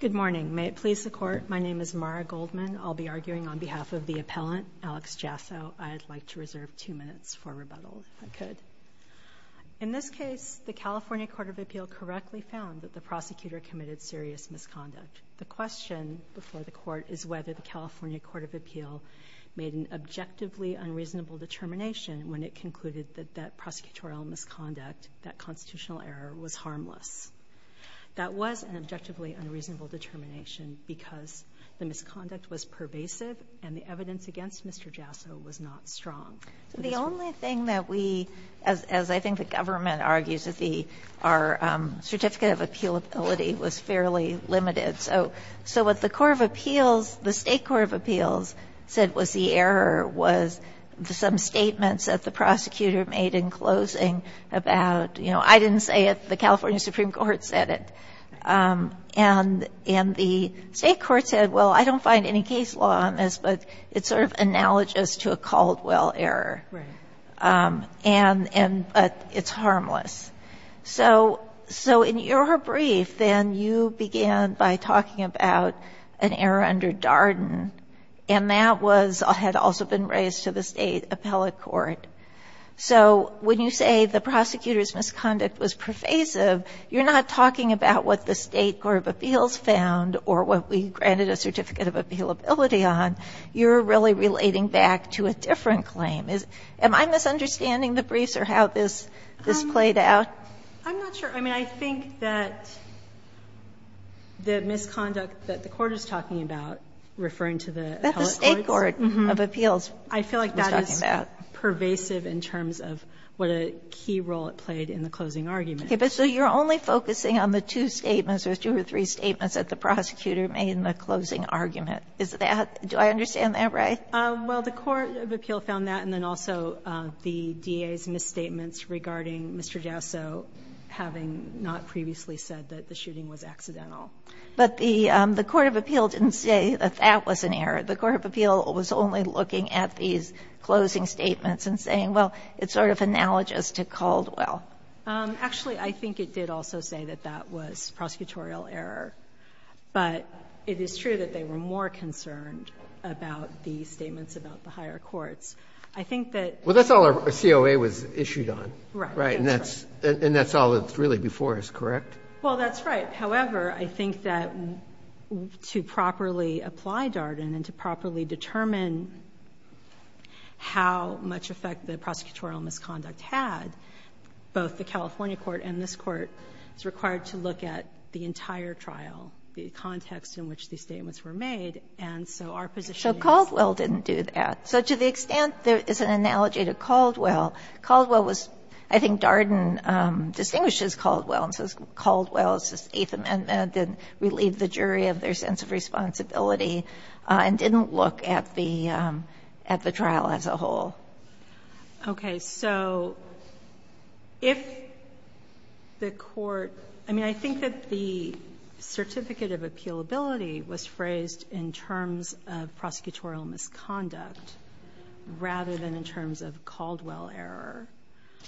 Good morning. May it please the court. My name is Mara Goldman. I'll be arguing on behalf of the appellant, Alex Jasso. I'd like to reserve two minutes for rebuttal, if I could. In this case, the California Court of Appeal correctly found that the prosecutor committed serious misconduct. The question before the court is whether the California Court of Appeal made an objectively unreasonable determination when it concluded that that prosecutorial misconduct, that constitutional error, was harmless. That was an objectively unreasonable determination because the misconduct was pervasive and the evidence against Mr. Jasso was not strong. So the only thing that we, as I think the government argues, is our certificate of appealability was fairly limited. So what the Court of Appeals, the State Court of Appeals, said was the error was some statements that the prosecutor made in closing about, you know, I didn't say it, the California Supreme Court said it. And the State Court said, well, I don't find any case law on this, but it sort of analogous to a Caldwell error. But it's harmless. So in your brief, then, you began by talking about an error under Darden, and that had also been raised to the State Appellate Court. So when you say the prosecutor's misconduct was pervasive, you're not talking about what the State Court of Appeals found or what we granted a certificate of appealability on, you're really relating back to a different claim. Am I misunderstanding the briefs or how this played out? I'm not sure. I mean, I think that the misconduct that the Court is talking about, referring to the appellate courts, I feel like that is pervasive in terms of what a key role it played in the closing argument. Okay. But so you're only focusing on the two statements or two or three statements that the prosecutor made in the closing argument. Is that do I understand that right? Well, the Court of Appeal found that, and then also the DA's misstatements regarding Mr. Jasso having not previously said that the shooting was accidental. But the Court of Appeal didn't say that that was an error. The Court of Appeal was only looking at these closing statements and saying, well, it sort of analogous to Caldwell. Actually, I think it did also say that that was prosecutorial error. But it is true that they were more concerned about the statements about the higher courts. I think that— Well, that's all our COA was issued on. Right. And that's all that's really before us, correct? Well, that's right. However, I think that to properly apply Darden and to properly determine how much effect the prosecutorial misconduct had, both the California court and this court is required to look at the entire trial, the context in which these statements were made. And so our position is— So Caldwell didn't do that. So to the extent there is an analogy to Caldwell, Caldwell was—I think Darden distinguishes Caldwell and says Caldwell's Eighth Amendment didn't relieve the jury of their sense of responsibility and didn't look at the trial as a whole. Okay. So if the court—I mean, I think that the certificate of appealability was phrased in terms of prosecutorial misconduct rather than in terms of Caldwell error.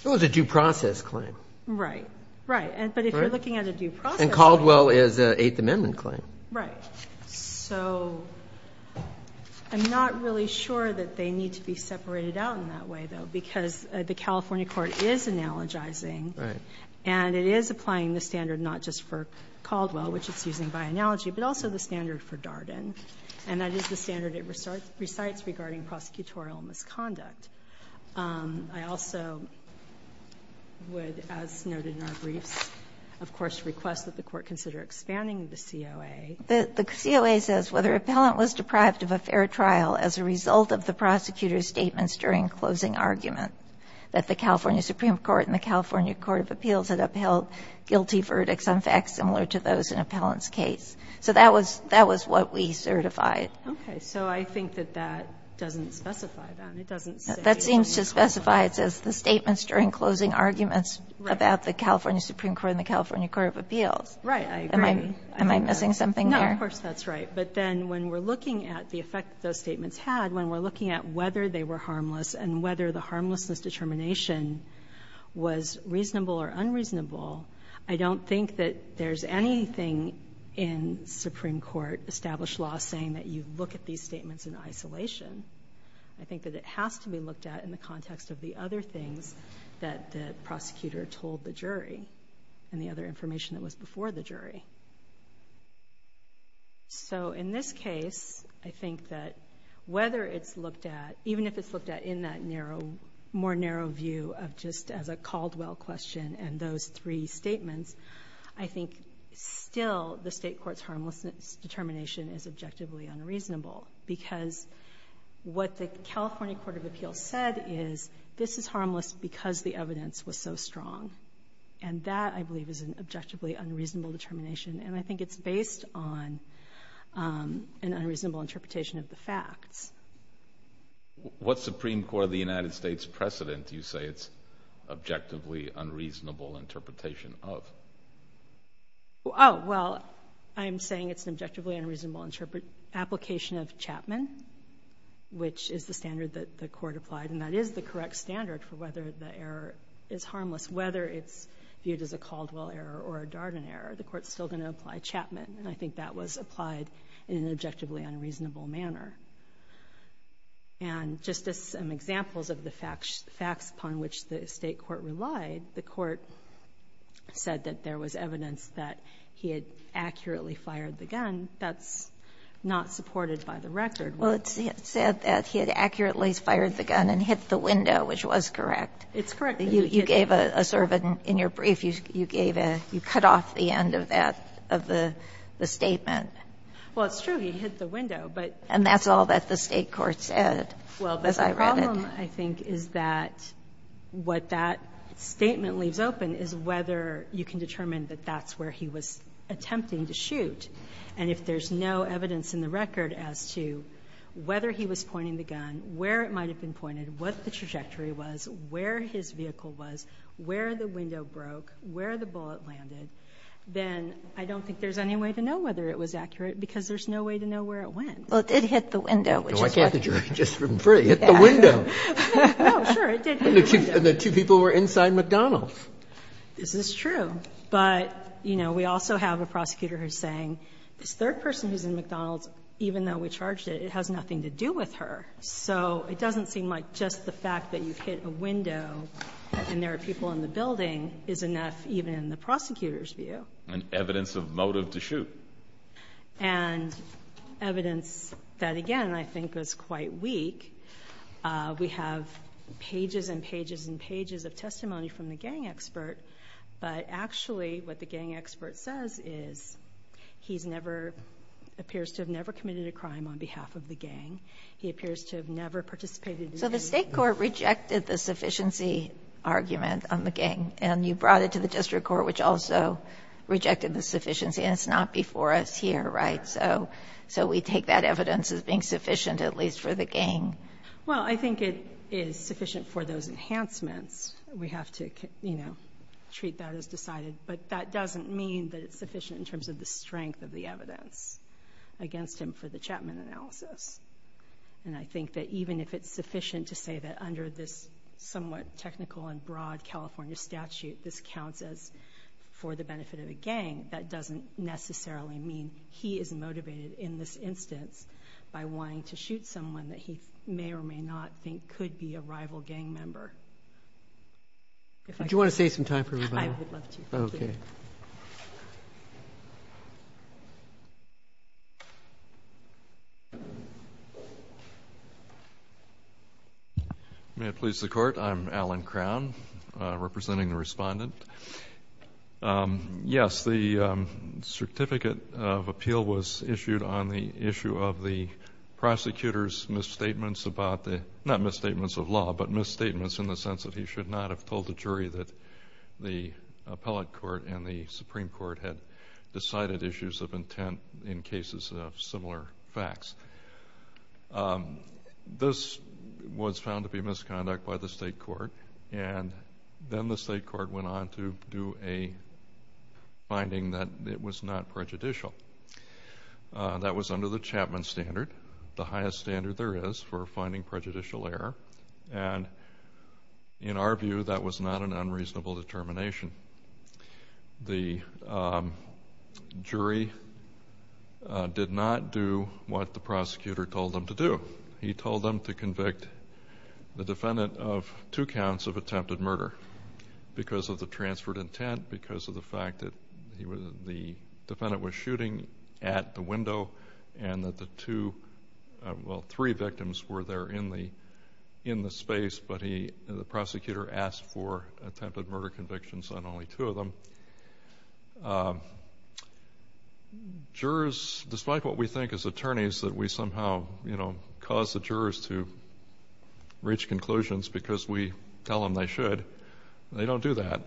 It was a due process claim. Right. Right. But if you're looking at a due process claim— But Caldwell is an Eighth Amendment claim. Right. So I'm not really sure that they need to be separated out in that way, though, because the California court is analogizing. Right. And it is applying the standard not just for Caldwell, which it's using by analogy, but also the standard for Darden. And that is the standard it recites regarding prosecutorial misconduct. I also would, as noted in our briefs, of course, request that the court consider expanding the COA. The COA says whether an appellant was deprived of a fair trial as a result of the prosecutor's statements during closing argument that the California Supreme Court and the California Court of Appeals had upheld guilty verdicts on facts similar to those in an appellant's case. So that was what we certified. Okay. So I think that that doesn't specify that. It doesn't say— That seems to specify it says the statements during closing arguments about the California Supreme Court and the California Court of Appeals. Right. I agree. Am I missing something there? No, of course, that's right. But then when we're looking at the effect those statements had, when we're looking at whether they were harmless and whether the harmlessness determination was reasonable or unreasonable, I don't think that there's anything in Supreme Court established law saying that you look at these statements in isolation. I think that it has to be looked at in the context of the other things that the prosecutor told the jury and the other information that was before the jury. So in this case, I think that whether it's looked at, even if it's looked at in that more narrow view of just as a Caldwell question and those three statements, I think still the State Court's harmlessness determination is objectively unreasonable because what the California Court of Appeals said is this is harmless because the evidence was so strong. And that, I believe, is an objectively unreasonable determination. And I think it's based on an unreasonable interpretation of the facts. What Supreme Court of the United States precedent do you say it's objectively unreasonable interpretation of? Oh, well, I'm saying it's an objectively unreasonable application of Chapman, which is the standard that the Court applied, and that is the correct standard for whether the error is harmless. Whether it's viewed as a Caldwell error or a Darden error, the Court's still going to apply Chapman. And I think that was applied in an objectively unreasonable manner. And just as some examples of the facts upon which the State Court relied, the Court said that there was evidence that he had accurately fired the gun. That's not supported by the record. Well, it said that he had accurately fired the gun and hit the window, which was correct. It's correct. You gave a sort of a, in your brief, you gave a, you cut off the end of that, of the statement. Well, it's true. He hit the window. And that's all that the State court said as I read it. Well, the problem, I think, is that what that statement leaves open is whether you can determine that that's where he was attempting to shoot. And if there's no evidence in the record as to whether he was pointing the gun, where it might have been pointed, what the trajectory was, where his vehicle was, where the window broke, where the bullet landed, then I don't think there's any way to know whether it was accurate, because there's no way to know where it went. Well, it did hit the window, which is correct. No, I thought the jury had just been free. It hit the window. No, sure. It did hit the window. And the two people were inside McDonald's. This is true. But, you know, we also have a prosecutor who's saying this third person who's in McDonald's, even though we charged it, it has nothing to do with her. So it doesn't seem like just the fact that you've hit a window and there are people in the building is enough, even in the prosecutor's view. And evidence of motive to shoot. And evidence that, again, I think was quite weak. We have pages and pages and pages of testimony from the gang expert, but actually what the gang expert says is he's never – appears to have never committed a crime on behalf of the gang. He appears to have never participated in the shooting. So the state court rejected the sufficiency argument on the gang, and you brought it to the district court, which also rejected the sufficiency. And it's not before us here, right? So we take that evidence as being sufficient, at least for the gang. Well, I think it is sufficient for those enhancements. We have to, you know, treat that as decided. But that doesn't mean that it's sufficient in terms of the strength of the evidence against him for the Chapman analysis. And I think that even if it's sufficient to say that under this somewhat technical and broad California statute, this counts as for the benefit of a gang, that doesn't necessarily mean he is motivated in this instance by wanting to shoot someone that he may or may not think could be a rival gang member. Do you want to save some time for rebuttal? I would love to. Okay. Thank you. May it please the Court? I'm Alan Crown, representing the Respondent. Yes, the certificate of appeal was issued on the issue of the prosecutor's misstatements about the, not misstatements of law, but misstatements in the sense that he should not have told the jury that the appellate court and the Supreme Court had decided issues of intent in cases of similar facts. This was found to be misconduct by the state court, and then the state court went on to do a finding that it was not prejudicial. That was under the Chapman standard, the highest standard there is for finding prejudicial error, and in our view that was not an unreasonable determination. The jury did not do what the prosecutor told them to do. He told them to convict the defendant of two counts of attempted murder because of the transferred intent, because of the fact that the defendant was shooting at the window and that the two, well, three victims were there in the space, but the prosecutor asked for attempted murder convictions on only two of them. Jurors, despite what we think as attorneys, that we somehow cause the jurors to reach conclusions because we tell them they should, they don't do that.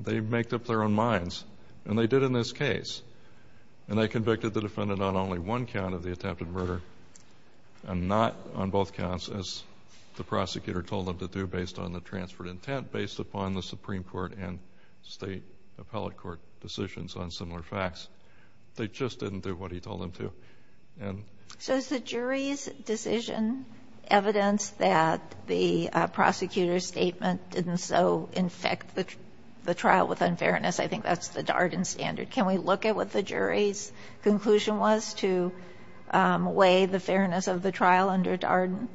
They make up their own minds, and they did in this case, and they convicted the defendant on only one count of the attempted murder and not on both counts, as the prosecutor told them to do, based on the transferred intent, based upon the Supreme Court and state appellate court decisions on similar facts. They just didn't do what he told them to. And so it's the jury's decision, evidence that the prosecutor's statement didn't so infect the trial with unfairness. I think that's the Darden standard. Can we look at what the jury's conclusion was to weigh the fairness of the trial under Darden?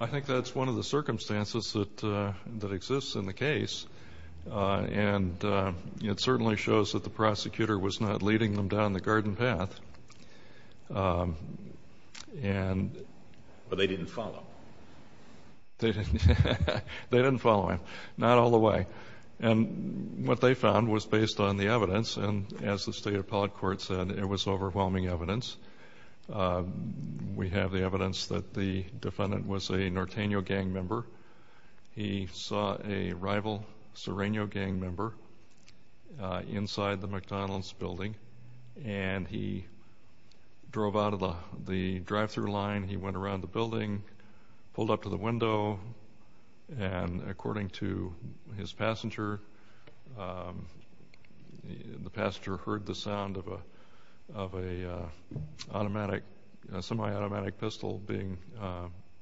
I think that's one of the circumstances that exists in the case, and it certainly shows that the prosecutor was not leading them down the garden path. But they didn't follow. They didn't follow him. Not all the way. And what they found was based on the evidence, and as the state appellate court said, it was overwhelming evidence. We have the evidence that the defendant was a Norteno gang member. He saw a rival Sereno gang member inside the McDonald's building, and he drove out of the drive-through line. And according to his passenger, the passenger heard the sound of a semi-automatic pistol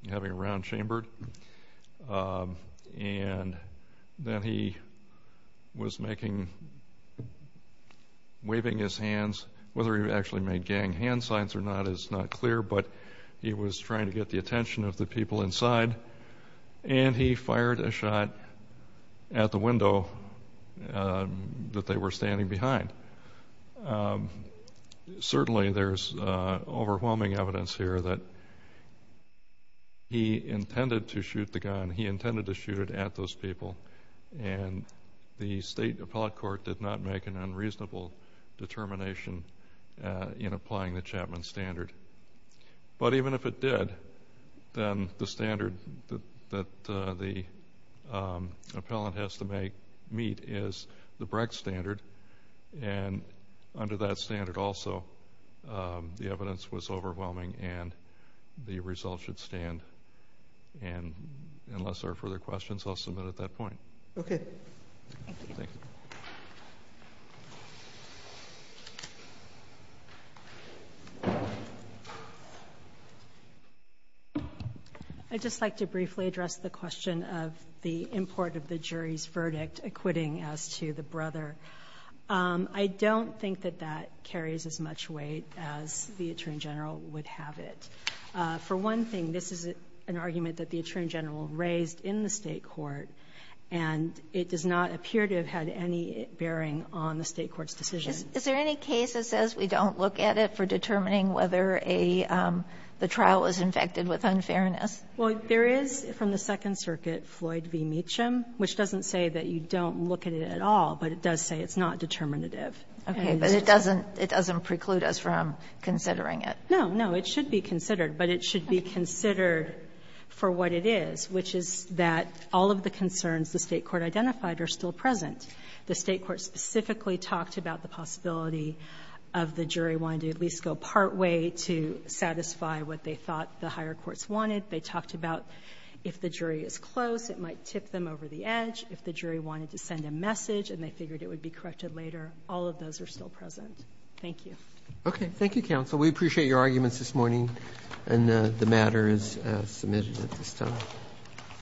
having a round chambered. And then he was making, waving his hands. Whether he actually made gang hand signs or not is not clear, but he was trying to get the attention of the people inside, and he fired a shot at the window that they were standing behind. Certainly there's overwhelming evidence here that he intended to shoot the gun. He intended to shoot it at those people, and the state appellate court did not make an unreasonable determination in applying the Chapman standard. But even if it did, then the standard that the appellant has to meet is the Brecht standard, and under that standard also the evidence was overwhelming and the results should stand. And unless there are further questions, I'll submit at that point. Okay. Thank you. Thank you. I'd just like to briefly address the question of the import of the jury's verdict acquitting as to the brother. I don't think that that carries as much weight as the attorney general would have it. For one thing, this is an argument that the attorney general raised in the State court, and it does not appear to have had any bearing on the State court's decision. Is there any case that says we don't look at it for determining whether a trial was infected with unfairness? Well, there is from the Second Circuit, Floyd v. Meacham, which doesn't say that you don't look at it at all, but it does say it's not determinative. Okay. But it doesn't preclude us from considering it. No, no. It should be considered, but it should be considered for what it is, which is that all of the concerns the State court identified are still present. The State court specifically talked about the possibility of the jury wanting to at least go partway to satisfy what they thought the higher courts wanted. They talked about if the jury is close, it might tip them over the edge. If the jury wanted to send a message and they figured it would be corrected later, all of those are still present. Thank you. Okay. Thank you, counsel. We appreciate your arguments this morning, and the matter is submitted at this time.